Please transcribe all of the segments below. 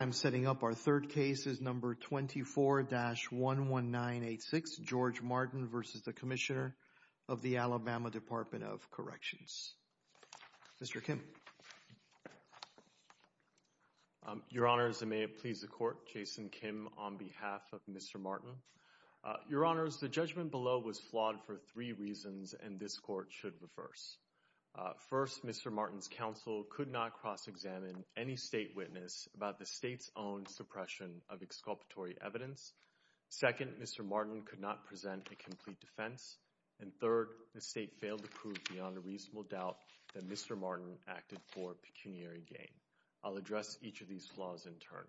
I'm setting up our third case is number 24-11986, George Martin v. Commissioner of the Alabama Department of Corrections. Mr. Kim. Your Honors, and may it please the Court, Jason Kim on behalf of Mr. Martin. Your Honors, the judgment below was flawed for three reasons and this Court should reverse. First, Mr. Martin's counsel could not cross-examine any state witness about the state's own suppression of exculpatory evidence. Second, Mr. Martin could not present a complete defense. And third, the state failed to prove beyond a reasonable doubt that Mr. Martin acted for pecuniary gain. I'll address each of these flaws in turn.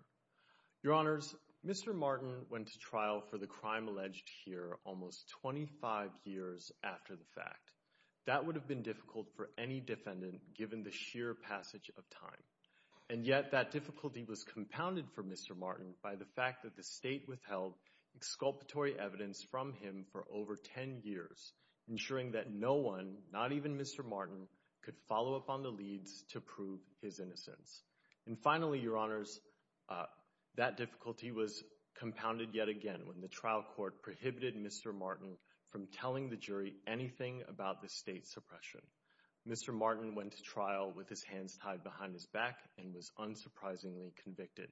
Your Honors, Mr. Martin went to trial for the crime alleged here almost 25 years after the fact. That would have been difficult for any defendant given the sheer passage of time. And yet, that difficulty was compounded for Mr. Martin by the fact that the state withheld exculpatory evidence from him for over 10 years, ensuring that no one, not even Mr. Martin, could follow up on the leads to prove his innocence. And finally, Your Honors, that difficulty was compounded yet again when the trial court prohibited Mr. Martin from telling the jury anything about the state's suppression. Mr. Martin went to trial with his hands tied behind his back and was unsurprisingly convicted.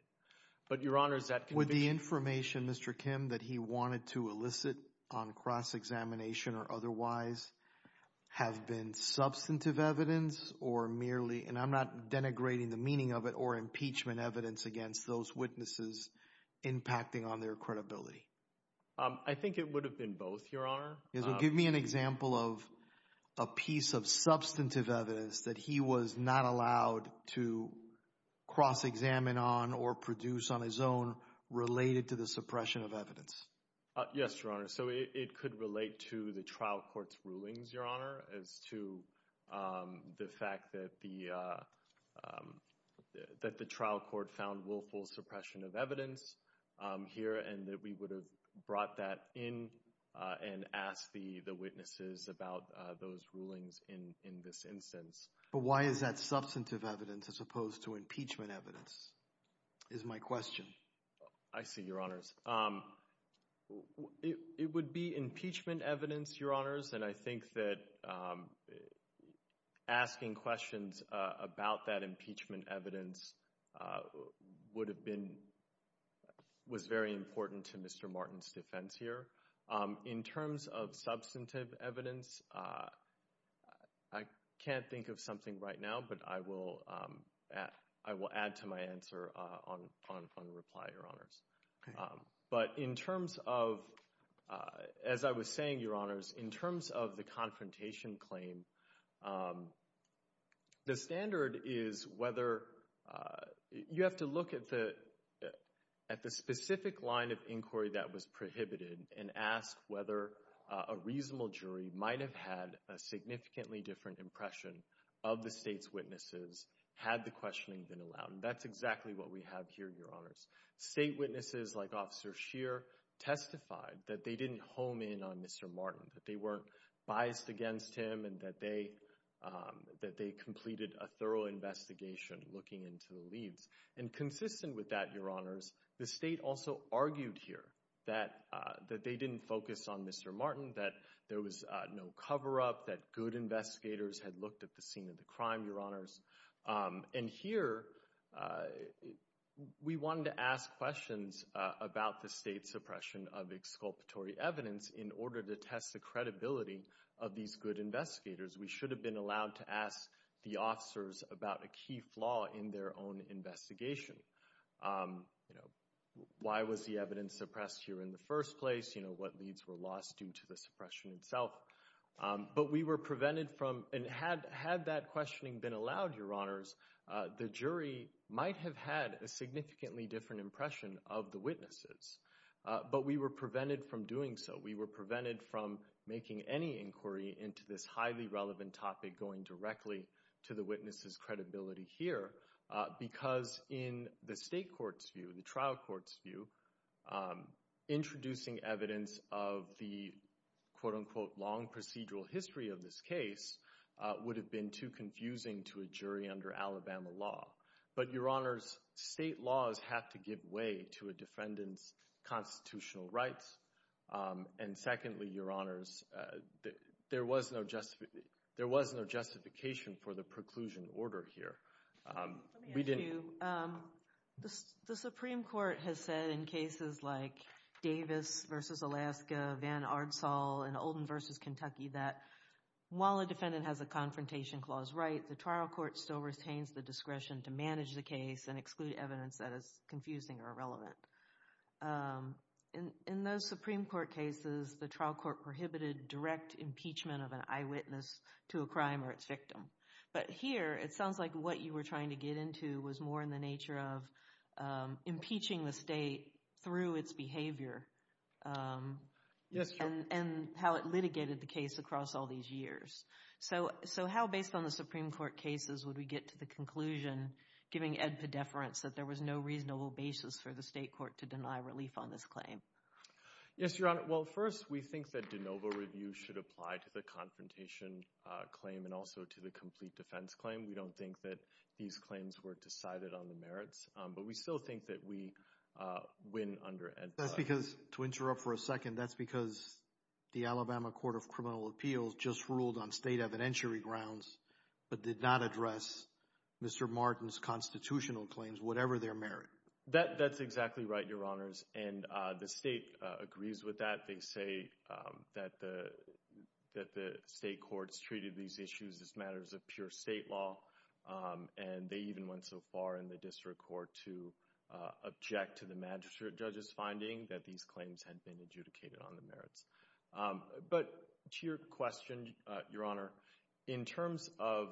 But, Your Honors, that conviction... Would the information, Mr. Kim, that he wanted to elicit on cross-examination or otherwise have been substantive evidence or merely, and I'm not denigrating the meaning of it, or impeachment evidence against those witnesses impacting on their credibility? I think it would have been both, Your Honor. Give me an example of a piece of substantive evidence that he was not allowed to cross-examine on or produce on his own related to the suppression of evidence. Yes, Your Honor. So, it could relate to the trial court's rulings, Your Honor, as to the fact that the trial court found willful suppression of evidence here and that we would have brought that in and asked the witnesses about those rulings in this instance. But why is that substantive evidence as opposed to impeachment evidence, is my question. I see, Your Honors. It would be impeachment evidence, Your Honors, and I think that asking questions about that impeachment evidence would have been, was very important to Mr. Martin's defense here. In terms of substantive evidence, I can't think of something right now, but I will add to my answer on reply, Your Honors. But in terms of, as I was saying, Your Honors, in terms of the confrontation claim, the standard is whether, you have to look at the specific line of inquiry that was prohibited and ask whether a reasonable jury might have had a significantly different impression of the state's witnesses had the questioning been allowed. That's exactly what we have here, Your Honors. State witnesses like Officer Scheer testified that they didn't home in on Mr. Martin, that they weren't biased against him and that they completed a thorough investigation looking into the leads. And consistent with that, Your Honors, the state also argued here that they didn't focus on Mr. Martin, that there was no cover-up, that good investigators had looked at the scene of the crime, Your Honors. And here, we wanted to ask questions about the state's suppression of exculpatory evidence in order to test the credibility of these good investigators. We should have been allowed to ask the officers about a key flaw in their own investigation. Why was the evidence suppressed here in the first place? What leads were lost due to the suppression itself? But we were Your Honors, the jury might have had a significantly different impression of the witnesses, but we were prevented from doing so. We were prevented from making any inquiry into this highly relevant topic going directly to the witnesses' credibility here because in the state court's view, the trial court's view, introducing evidence of the quote-unquote long procedural history of this case would have been too confusing to a jury under Alabama law. But Your Honors, state laws have to give way to a defendant's constitutional rights. And secondly, Your Honors, there was no justification for the preclusion order here. Let me ask you, the Supreme Court has said in cases like Davis v. Alaska, Van Ardsall, and Oldham v. Kentucky that while a defendant has a confrontation clause right, the trial court still retains the discretion to manage the case and exclude evidence that is confusing or irrelevant. In those Supreme Court cases, the trial court prohibited direct impeachment of an eyewitness to a crime or its victim. But here, it sounds like what you were trying to get into was more in the nature of impeaching the state through its behavior. Yes, Your Honor. And how it litigated the case across all these years. So how, based on the Supreme Court cases, would we get to the conclusion, giving Ed pedeference, that there was no reasonable basis for the state court to deny relief on this claim? Yes, Your Honor. Well, first, we think that de novo review should apply to the confrontation claim and also to the complete defense claim. We don't think that these claims were decided on the merits, but we still think that we win under Ed's... That's because, to interrupt for a second, that's because the Alabama Court of Criminal Appeals just ruled on state evidentiary grounds, but did not address Mr. Martin's constitutional claims, whatever their merit. That's exactly right, Your Honors. And the state agrees with that. They say that the state courts treated these issues as matters of pure state law. And they even went so far in the district court to object to the magistrate judge's finding that these claims had been adjudicated on the merits. But to your question, Your Honor, in terms of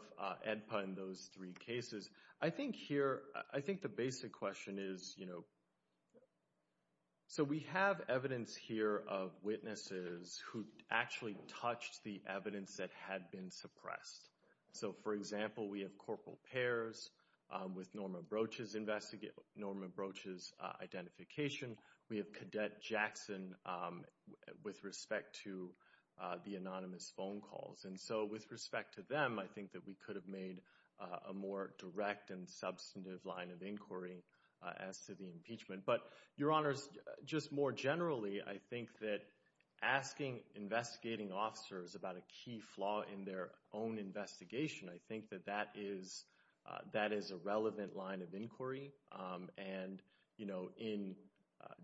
Edpa and those three cases, I think here, I think the basic question is, you know... So we have evidence here of witnesses who actually touched the evidence that had been suppressed. So, for example, we have Corporal Pairs with Norma Broach's identification. We have Cadet Jackson with respect to the anonymous phone calls. And so, with respect to them, I think that we could have made a more direct and substantive line of inquiry as to the impeachment. But, Your Honors, just more generally, I think that asking investigating officers about a their own investigation, I think that that is a relevant line of inquiry. And, you know, in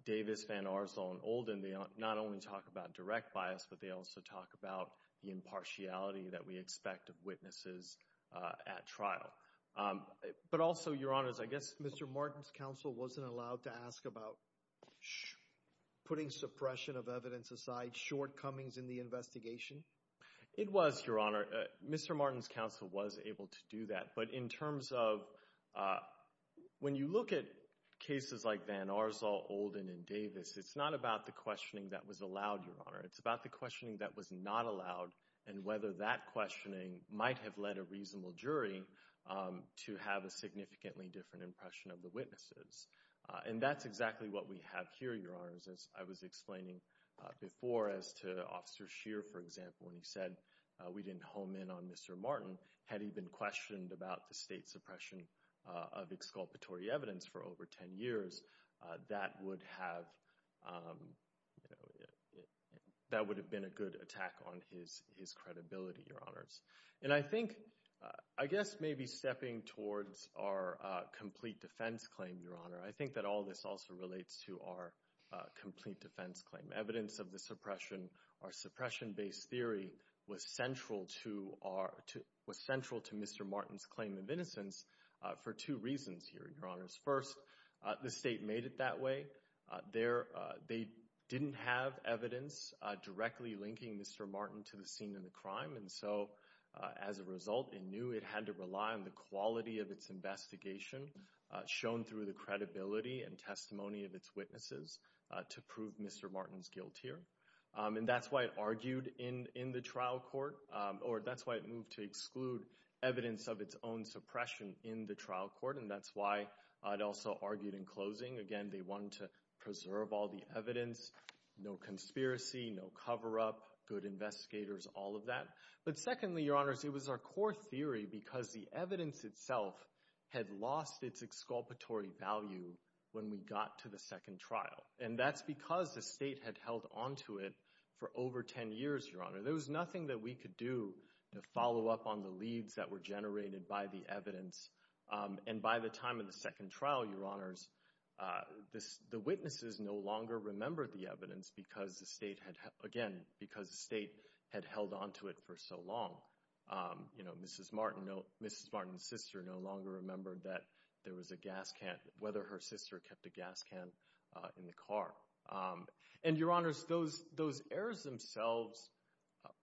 Davis, Van Arsdell, and Olden, they not only talk about direct bias, but they also talk about the impartiality that we expect of witnesses at trial. But also, Your Honors, I guess... Mr. Martin's counsel wasn't allowed to ask about putting suppression of evidence aside, shortcomings in the investigation? It was, Your Honor. Mr. Martin's counsel was able to do that. But in terms of... When you look at cases like Van Arsdell, Olden, and Davis, it's not about the questioning that was allowed, Your Honor. It's about the questioning that was not allowed and whether that questioning might have led a reasonable jury to have a significantly different impression of the witnesses. And that's exactly what we have here, Your Honors, as I was explaining before as to Officer Scheer, for example, when he said we didn't home in on Mr. Martin. Had he been questioned about the state suppression of exculpatory evidence for over 10 years, that would have... That would have been a good attack on his credibility, Your Honors. And I think, I guess maybe stepping towards our complete defense claim, Your Honor, I think that all this also relates to our complete defense claim. Evidence of the suppression, our suppression-based theory was central to our... Was central to Mr. Martin's claim of innocence for two reasons here, Your Honors. First, the state made it that way. They didn't have evidence directly linking Mr. Martin to the scene of the crime. And so, as a result, it knew it had to rely on the quality of its investigation shown through the credibility and testimony of its witnesses to prove Mr. Martin's guilt here. And that's why it argued in the trial court, or that's why it moved to exclude evidence of its own suppression in the trial court, and that's why it also argued in closing. Again, they wanted to preserve all the evidence, no conspiracy, no cover-up, good investigators, all of that. But secondly, Your Honors, it was our core theory because the evidence itself had lost its exculpatory value when we got to the second trial. And that's because the state had held onto it for over 10 years, Your Honor. There was nothing that we could do to follow up on the leads that were generated by the evidence. And by the time of the second trial, Your Honors, the witnesses no longer remembered the evidence because the state had, again, because the Mrs. Martin, Mrs. Martin's sister no longer remembered that there was a gas can, whether her sister kept a gas can in the car. And, Your Honors, those errors themselves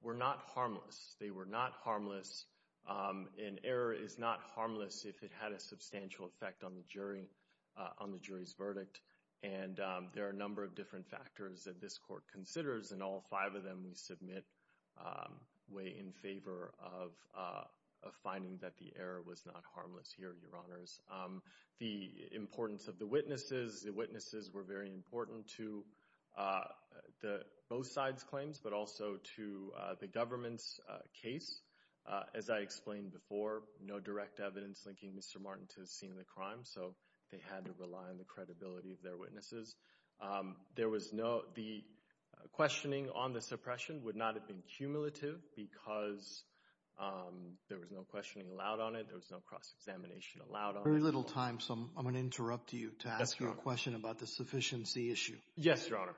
were not harmless. They were not harmless. An error is not harmless if it had a substantial effect on the jury, on the jury's verdict. And there are a number of different factors that this court considers, and all five of them we submit way in favor of finding that the error was not harmless here, Your Honors. The importance of the witnesses, the witnesses were very important to both sides' claims, but also to the government's case. As I explained before, no direct evidence linking Mr. Martin to the scene of the crime, so they had to of their witnesses. There was no, the questioning on the suppression would not have been cumulative because there was no questioning allowed on it. There was no cross-examination allowed on it. Very little time, so I'm going to interrupt you to ask you a question about the sufficiency issue. Yes, Your Honor.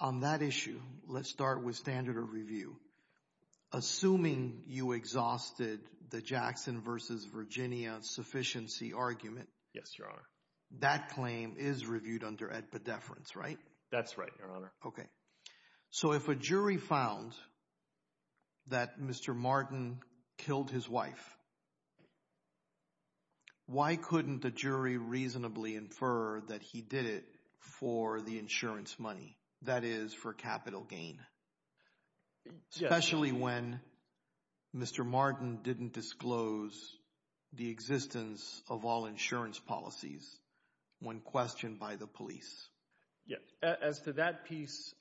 On that issue, let's start with standard of review. Assuming you exhausted the Jackson v. Virginia sufficiency argument. Yes, Your Honor. That claim is reviewed under ad pedeference, right? That's right, Your Honor. Okay. So if a jury found that Mr. Martin killed his wife, why couldn't the jury reasonably infer that he did it for the insurance money, that is, for capital gain, especially when Mr. Martin didn't disclose the existence of all insurance policies when questioned by the police? Yes. As to that piece,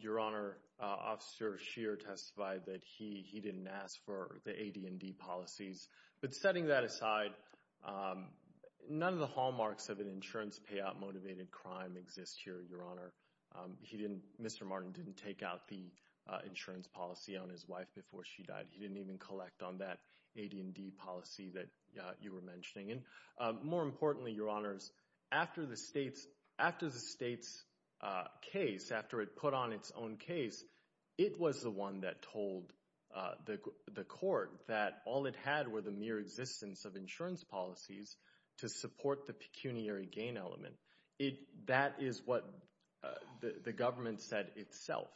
Your Honor, Officer Scheer testified that he didn't ask for the A, D, and D policies, but setting that aside, none of the hallmarks of an insurance payout motivated crime exist here, Your Honor. Mr. Martin didn't take out the insurance policy on his wife before she died. He didn't even collect on that A, D, and D policy that you were mentioning. And more importantly, Your Honors, after the state's case, after it put on its own case, it was the one that told the court that all it had were the mere existence of insurance policies to support the pecuniary gain element. That is what the government said itself.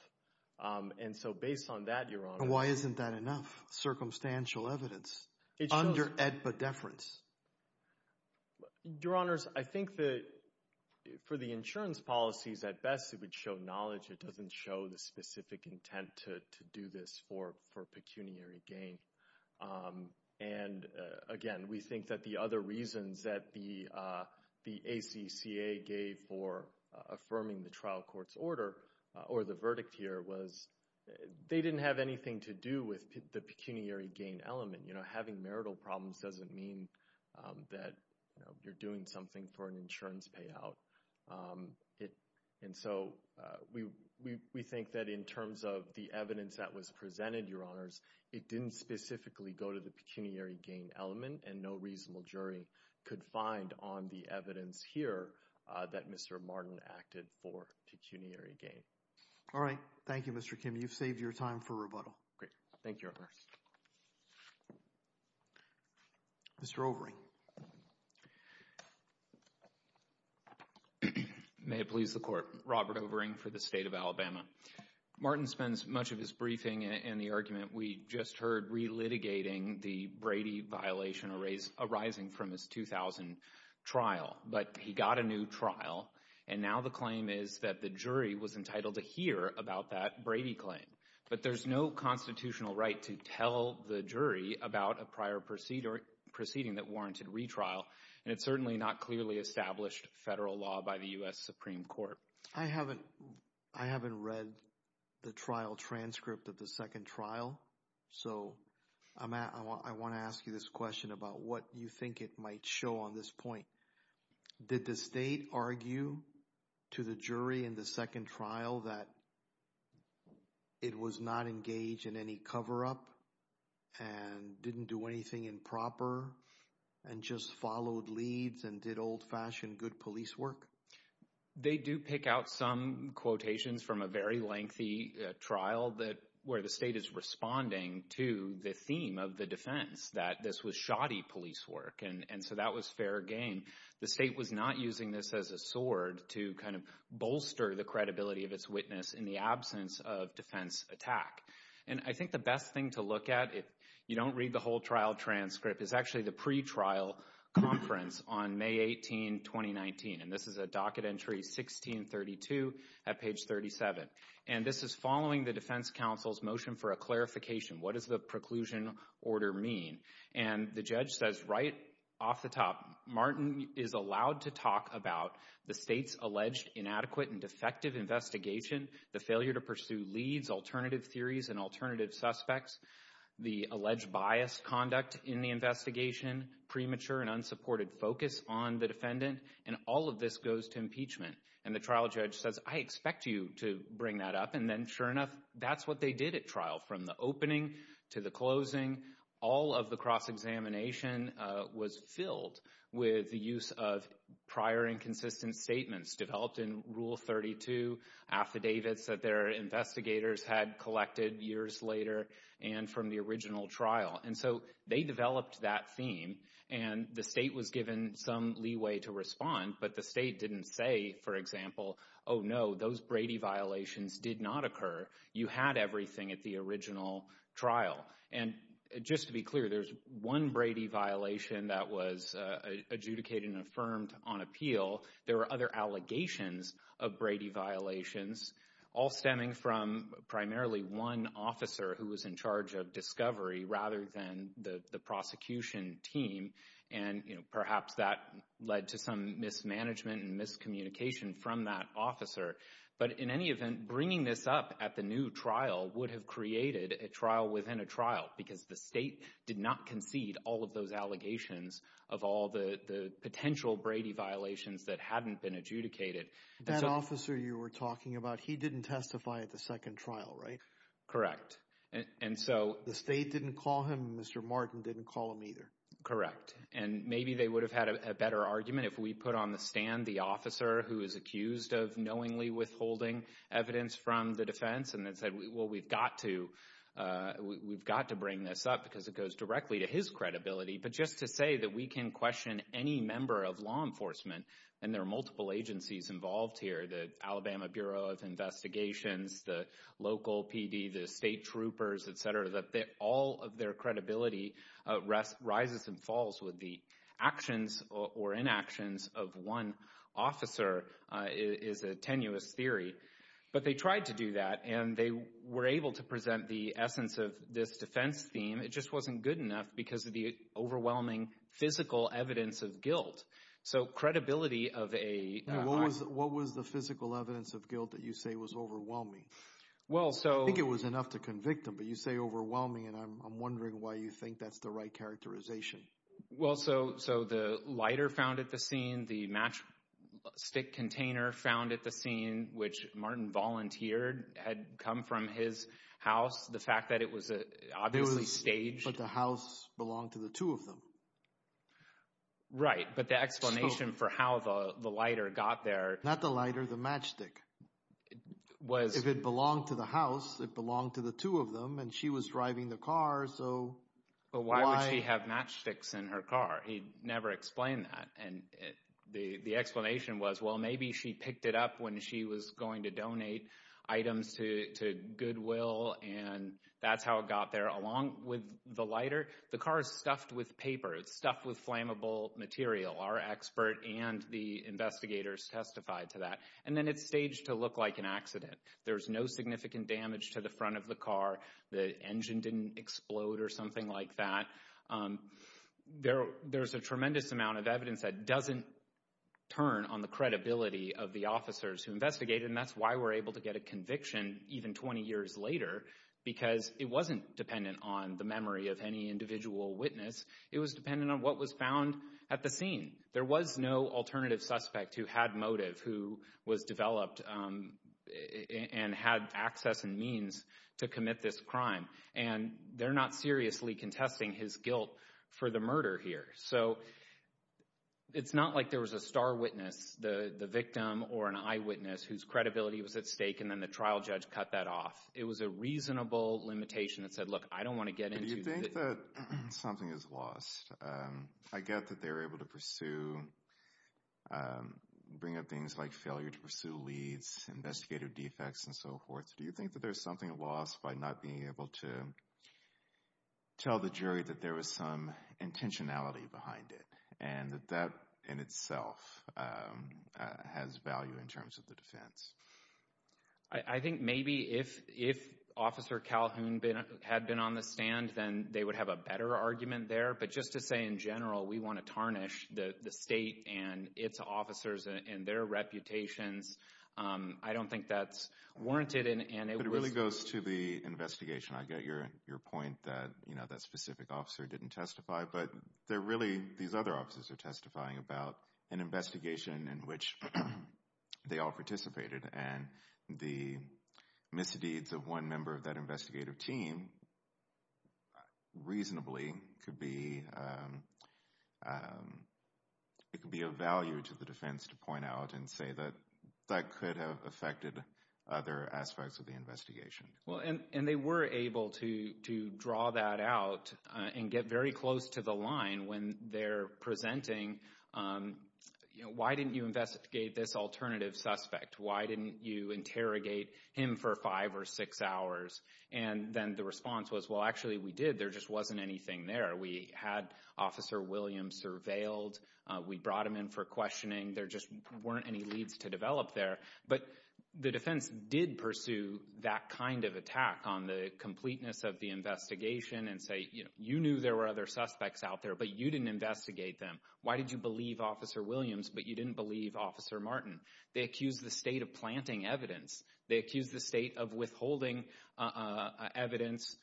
And so based on that, Your Honor— And why isn't that enough circumstantial evidence under AEDPA deference? Your Honors, I think that for the insurance policies at best, it would show knowledge. It doesn't show the specific intent to do this for pecuniary gain. And again, we think that the other reasons that the ACCA gave for affirming the trial court's order or the verdict here was they didn't have anything to do with the pecuniary gain element. Having marital problems doesn't mean that you're doing something for an insurance payout. And so we think that in terms of the evidence that was presented, Your Honors, it didn't specifically go to the pecuniary gain element, and no reasonable jury could find on the evidence here that Mr. Martin acted for pecuniary gain. All right. Thank you, Mr. Kim. You've saved your time for rebuttal. Great. Thank you, Your Honors. Mr. Overing. May it please the Court. Robert Overing for the State of Alabama. Martin spends much of his briefing in the argument we just heard relitigating the Brady violation arising from his 2000 trial. But he got a new trial, and now the claim is that the jury was entitled to hear about that Brady claim. But there's no constitutional right to tell the jury about a prior proceeding that warranted retrial, and it's certainly not clearly established federal law by the U.S. Supreme Court. I haven't read the trial transcript of the second trial, so I want to ask you this question about what you think it might show on this point. Did the state argue to the jury in the second trial that it was not engaged in any cover-up and didn't do anything improper and just followed leads and did old-fashioned good police work? They do pick out some quotations from a very lengthy trial where the state is responding to the theme of the defense, that this was shoddy police work, and so that was fair game. The state was not using this as a sword to kind of bolster the credibility of its witness in the absence of defense attack. And I think the best thing to look at, if you don't read the whole transcript, is actually the pretrial conference on May 18, 2019. And this is a docket entry 1632 at page 37. And this is following the defense counsel's motion for a clarification. What does the preclusion order mean? And the judge says right off the top, Martin is allowed to talk about the state's alleged inadequate and defective investigation, the failure to pursue leads, alternative theories, and alternative suspects, the alleged biased conduct in the investigation, premature and unsupported focus on the defendant, and all of this goes to impeachment. And the trial judge says, I expect you to bring that up. And then, sure enough, that's what they did at trial. From the opening to the closing, all of the cross-examination was filled with the use of prior inconsistent statements developed in Rule 32, affidavits that their investigators had collected years later, and from the original trial. And so they developed that theme, and the state was given some leeway to respond, but the state didn't say, for example, oh no, those Brady violations did not occur. You had everything at the original trial. And just to be clear, there's one Brady violation that was adjudicated and affirmed on appeal. There were other allegations of Brady violations, all stemming from primarily one officer who was in charge of discovery, rather than the prosecution team. And, you know, perhaps that led to some mismanagement and miscommunication from that officer. But in any event, bringing this up at the new trial would have created a trial within a trial, because the state did not concede all of those allegations of all the potential Brady violations that hadn't been adjudicated. That officer you were talking about, he didn't testify at the second trial, right? Correct. And so... The state didn't call him. Mr. Martin didn't call him either. Correct. And maybe they would have had a better argument if we put on the stand the officer who is accused of knowingly withholding evidence from the defense and then said, well, we've got to bring this up because it goes directly to his credibility. But just to say that we can question any member of law enforcement, and there are multiple agencies involved here, the Alabama Bureau of Investigations, the local PD, the state troopers, et cetera, that all of their credibility rises and falls with the actions or inactions of one officer is a tenuous theory. But they tried to do that, and they were able to present the essence of this defense theme. It just wasn't good enough because of the overwhelming physical evidence of guilt. So credibility of a... What was the physical evidence of guilt that you say was overwhelming? Well, so... I think it was enough to convict him, but you say overwhelming, and I'm wondering why you think that's the right characterization. Well, so the lighter found at the scene, the matchstick container found at the scene, which Martin volunteered had come from his house, the fact that it was obviously staged... But the house belonged to the two of them. Right, but the explanation for how the lighter got there... Not the lighter, the matchstick. If it belonged to the house, it belonged to the two of them, and she was driving the car, so... But why would she have matchsticks in her car? He never explained that, and the explanation was, well, maybe she picked it up when she was going to donate items to Goodwill, and that's how it got there. Along with the lighter, the car is stuffed with paper. It's stuffed with flammable material. Our expert and the investigators testified to that. And then it's staged to look like an accident. There's no significant damage to the front of the car. The engine didn't explode or something like that. There's a tremendous amount of evidence that doesn't turn on the credibility of the officers who investigated, and that's why we're able to get a conviction even 20 years later, because it wasn't dependent on the memory of any individual witness. It was dependent on what was found at the scene. There was no alternative suspect who had motive, who was developed and had access and means to commit this crime, and they're not seriously contesting his guilt for the murder here. So it's not like there was a star witness, the victim, or an eyewitness whose credibility was at stake, and then the trial judge cut that off. It was a reasonable limitation that said, look, I don't want to get into... Do you think that something is lost? I get that they were able to pursue, bring up things like failure to pursue leads, investigative defects, and so forth. Do you think that there's something lost by not being able to tell the jury that there was some intentionality behind it, and that that in itself has value in terms of the defense? I think maybe if Officer Calhoun had been on the stand, then they would have a better argument there. But just to say, in general, we want to tarnish the state and its officers and their reputations, I don't think that's warranted. But it really goes to the investigation. I get your point that, you know, that specific officer didn't testify, but they're really, these other officers are testifying about an investigation in which they all participated. And the misdeeds of one member of that investigative team reasonably could be... It could be of value to the defense to point out and say that that could have affected other aspects of the investigation. Well, and they were able to draw that out and get very close to the line when they're presenting, you know, why didn't you investigate this alternative suspect? Why didn't you interrogate him for five or six hours? And then the response was, well, actually, we did. There just wasn't anything there. We had Officer Williams surveilled. We brought him in for questioning. There just weren't any leads to develop there. But the defense did pursue that kind of attack on the completeness of the investigation and say, you know, you knew there were other suspects out there, but you didn't investigate them. Why did you believe Officer Williams, but you didn't believe Officer Martin? They accused the state of planting evidence. They accused the state of withholding evidence,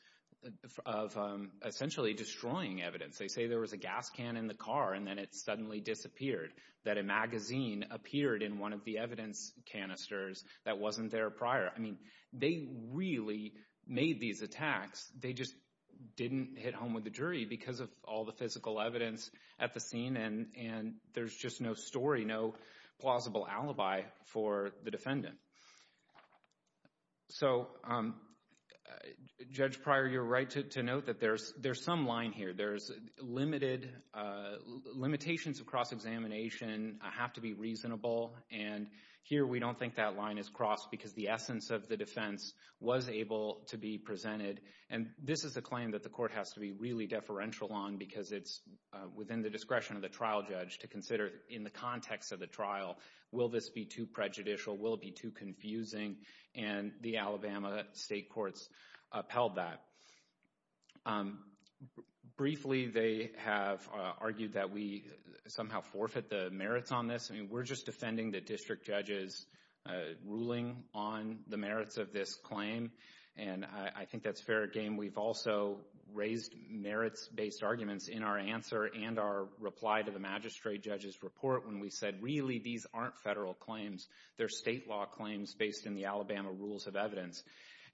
of essentially destroying evidence. They say there was a gas can in the period in one of the evidence canisters that wasn't there prior. I mean, they really made these attacks. They just didn't hit home with the jury because of all the physical evidence at the scene, and there's just no story, no plausible alibi for the defendant. So, Judge Pryor, you're right to note that there's some line here. There's limited, limitations of cross-examination have to be reasonable, and here we don't think that line is crossed because the essence of the defense was able to be presented. And this is a claim that the court has to be really deferential on because it's within the discretion of the trial judge to consider in the context of the trial, will this be too prejudicial? Will it be too confusing? And the Alabama state courts upheld that. Briefly, they have argued that we somehow forfeit the merits on this. I mean, we're just defending the district judge's ruling on the merits of this claim, and I think that's fair game. We've also raised merits-based arguments in our answer and our reply to the magistrate judge's report when we said, really, these aren't federal claims. They're state law claims based in the Alabama rules of evidence.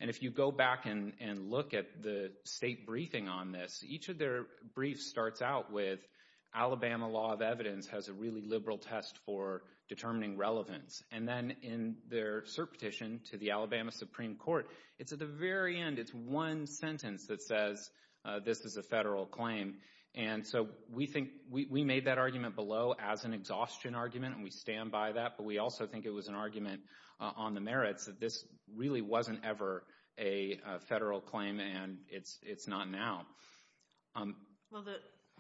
And if you go back and look at the state briefing on this, each of their briefs starts out with, Alabama law of evidence has a really liberal test for determining relevance. And then in their cert petition to the Alabama Supreme Court, it's at the very end, it's one sentence that says, this is a federal claim. And so we think, we made that argument below as an exhaustion argument, and we stand by that, but we also think it was an argument on the merits that this really wasn't ever a federal claim, and it's not now. Well,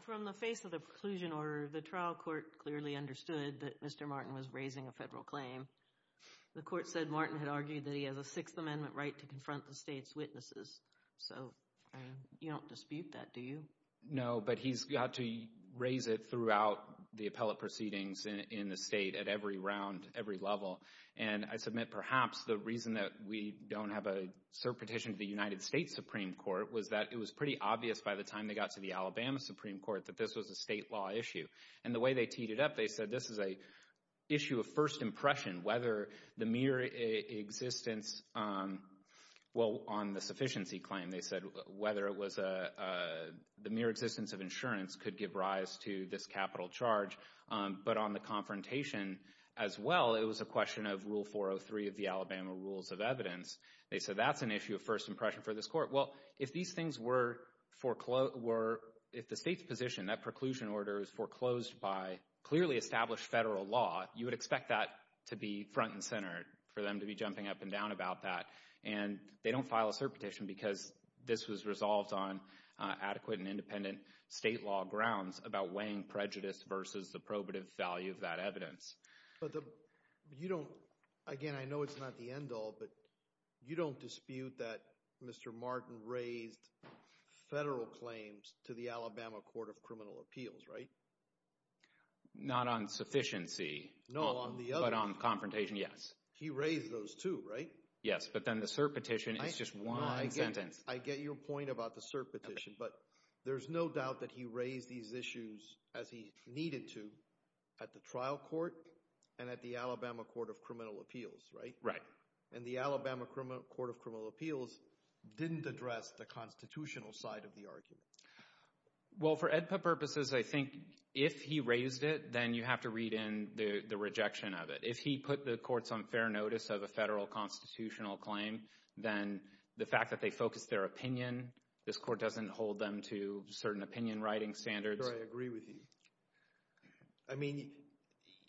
from the face of the preclusion order, the trial court clearly understood that Mr. Martin was raising a federal claim. The court said Martin had argued that he has a Sixth Amendment right to confront the state's witnesses. So, you don't dispute that, do you? No, but he's got to raise it throughout the appellate proceedings in the state at every round, every level. And I submit, perhaps, the reason that we don't have a cert petition to the United States Supreme Court was that it was pretty obvious by the time they got to the Alabama Supreme Court that this was a state law issue. And the way they teed it up, they said, this is an issue of first impression, whether the mere existence, well, on the sufficiency claim, they said, whether it was the mere existence of insurance could give rise to this capital charge. But on the confrontation, as well, it was a question of Rule 403 of the Alabama Rules of Evidence. They said that's an issue of first impression for this court. Well, if these things were foreclosed, if the state's position, that preclusion order, is foreclosed by clearly established federal law, you would expect that to be front and center, for them to be jumping up and down about that. And they don't file a cert petition because this was resolved on adequate and state law grounds about weighing prejudice versus the probative value of that evidence. Again, I know it's not the end all, but you don't dispute that Mr. Martin raised federal claims to the Alabama Court of Criminal Appeals, right? Not on sufficiency, but on confrontation, yes. He raised those, too, right? Yes, but then the cert petition is just one sentence. I get your point about the cert petition, but there's no doubt that he raised these issues as he needed to at the trial court and at the Alabama Court of Criminal Appeals, right? And the Alabama Court of Criminal Appeals didn't address the constitutional side of the argument. Well, for AEDPA purposes, I think if he raised it, then you have to read in the rejection of it. If he put the courts on fair notice of a federal constitutional claim, then the fact that they focused their opinion, this court doesn't hold them to certain opinion writing standards. Sir, I agree with you. I mean,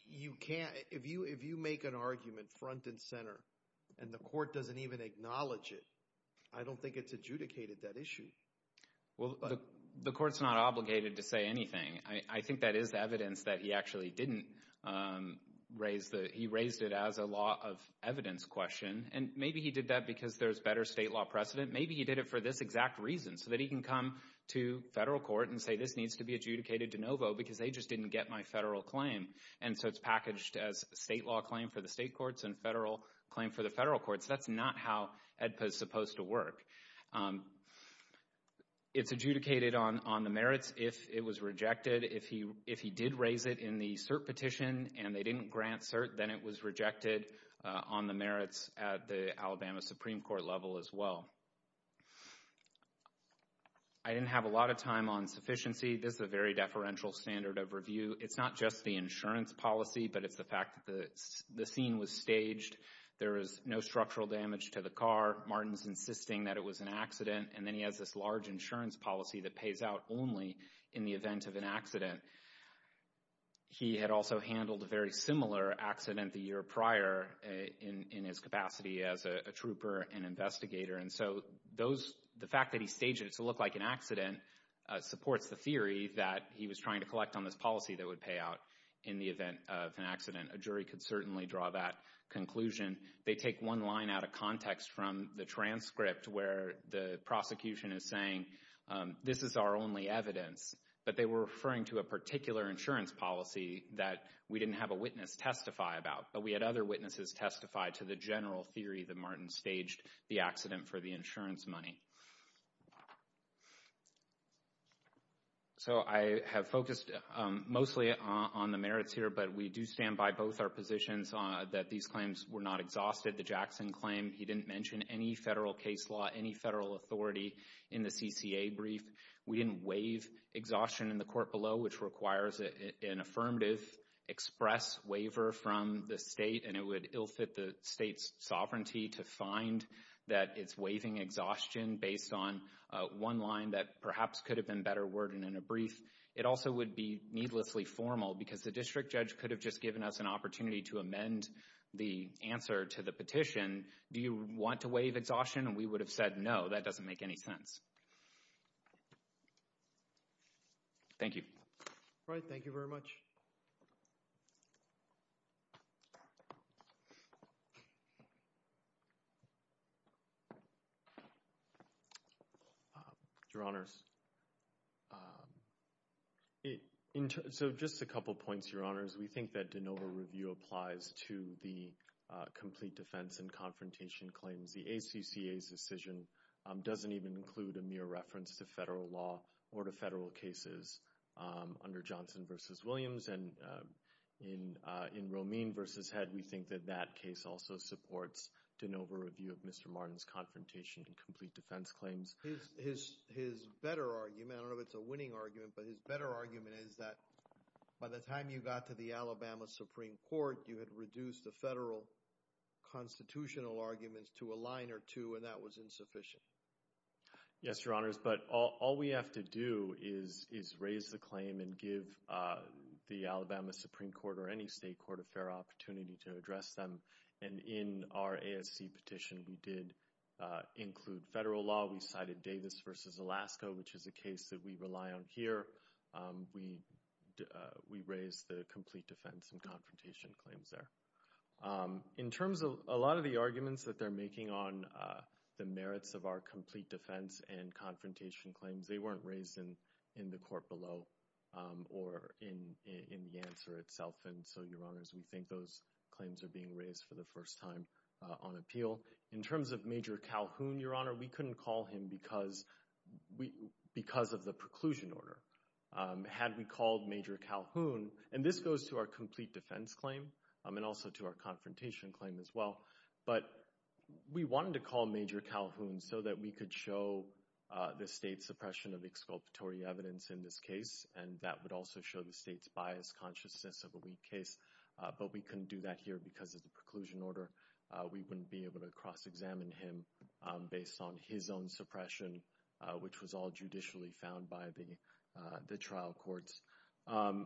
you can't, if you make an argument front and center, and the court doesn't even acknowledge it, I don't think it's adjudicated that issue. Well, the court's not obligated to say anything. I think that is evidence that he actually didn't raise the, he raised it as a law of evidence question. And maybe he did that because there's better state law precedent. Maybe he did it for this exact reason, so that he can come to federal court and say, this needs to be adjudicated de novo because they just didn't get my federal claim. And so it's packaged as state law claim for the state courts and federal claim for the federal courts. That's not how AEDPA is supposed to work. It's adjudicated on the merits if it was rejected. If he did raise it in the cert petition and they didn't grant cert, then it was rejected on the merits at the Alabama Supreme Court level as well. I didn't have a lot of time on sufficiency. This is a very deferential standard of review. It's not just the insurance policy, but it's the fact that the scene was staged. There is no structural damage to the car. Martin's insisting that it was an accident. And then he has this large insurance policy that pays out only in the event of an accident. He had also handled a very similar accident the year prior in his capacity as a trooper and investigator. And so those, the fact that he staged it to look like an accident supports the theory that he was trying to collect on this policy that would pay out in the event of an accident. A jury could certainly draw that conclusion. They take one line out of context from the transcript where the prosecution is saying, this is our only evidence. But they were referring to a particular insurance policy that we didn't have a witness testify about, but we had other witnesses testify to the general theory that Martin staged the accident for the insurance money. So I have focused mostly on the merits here, but we do stand by both our positions that these claims were not exhausted. The Jackson claim, he didn't mention any federal case law, any federal authority in the CCA brief. We didn't waive exhaustion in the court below, which requires an affirmative express waiver from the state. And it would ill fit the state's sovereignty to find that it's waiving exhaustion based on one line that perhaps could have been better worded in a brief. It also would be needlessly formal because the district judge could have just given us an opportunity to amend the answer to the petition. Do you want to waive exhaustion? And we would have said, no, that doesn't make any sense. Thank you. All right. Thank you very much. Your Honors, so just a couple of points, Your Honors. We think that de novo review applies to the complete defense and confrontation claims. The ACCA's decision doesn't even include a mere reference to federal law or to federal cases under Johnson versus Williams. And in Romine versus Head, we think that that case also supports de novo review of Mr. Martin's confrontation and complete defense claims. His better argument, I don't know if it's a winning argument, but his better argument is that by the time you got to the Alabama Supreme Court, you had reduced the federal constitutional arguments to a line or two, and that was insufficient. Yes, Your Honors. But all we have to do is raise the claim and give the Alabama Supreme Court or any state court a fair opportunity to address them. And in our ASC petition, we did include federal law. We cited Davis versus Alaska, which is a case that we rely on here. We raised the complete defense and confrontation claims there. In terms of a lot of the arguments that they're making on the merits of our complete defense and confrontation claims, they weren't raised in the court below or in the answer itself. And so, Your Honors, we think those claims are being raised for the first time on appeal. In terms of Major Calhoun, Your Honor, we couldn't call him because of the preclusion order. Had we called Major Calhoun, and this goes to our complete defense claim and also to our confrontation claim as well, but we wanted to call Major Calhoun so that we could show the state's suppression of exculpatory evidence in this case, and that would also show the state's biased consciousness of a weak case. But we couldn't do that here because of the preclusion order. We wouldn't be able to cross-examine him based on his own suppression, which was all judicially found by the trial courts.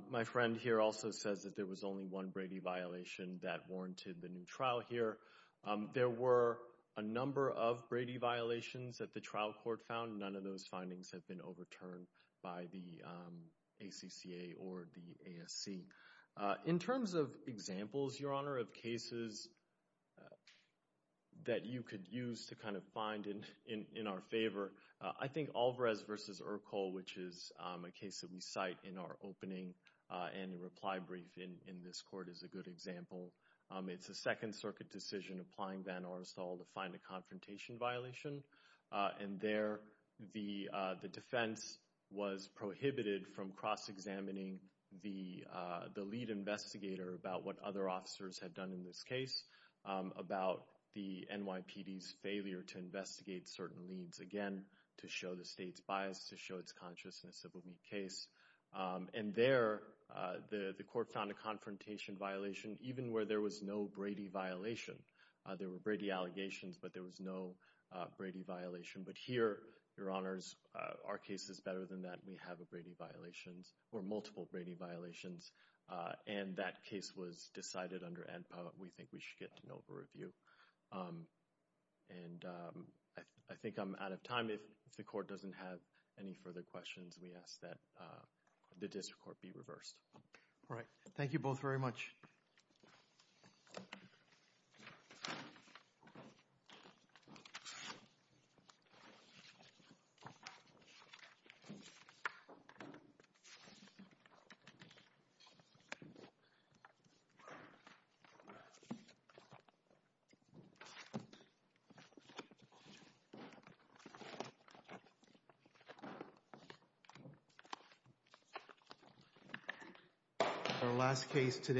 My friend here also says that there was only one Brady violation that warranted the new trial here. There were a number of Brady violations that the trial court found. None of those findings have been overturned by the ACCA or the ASC. In terms of examples, Your Honor, of cases that you could use to kind of find in our favor, I think Alvarez v. Urkel, which is a case that we cite in our opening and reply brief in this court is a good example. It's a Second Circuit decision applying Van Orstal to find a confrontation violation, and there the defense was prohibited from cross-examining the lead investigator about what other officers had done in this case about the NYPD's failure to investigate certain leads, again, to show the state's bias, to show its consciousness of a weak case. And there the court found a confrontation violation even where there was no Brady violation. There were Brady allegations, but there was no Brady violation. But here, Your Honors, our case is better than that. We have a Brady violation or multiple Brady violations, and that case was decided under ANPA. We think we should get an over-review. And I think I'm out of time. If the court doesn't have any further questions, we ask that the district court be reversed. All right. Thank you both very much. Thank you.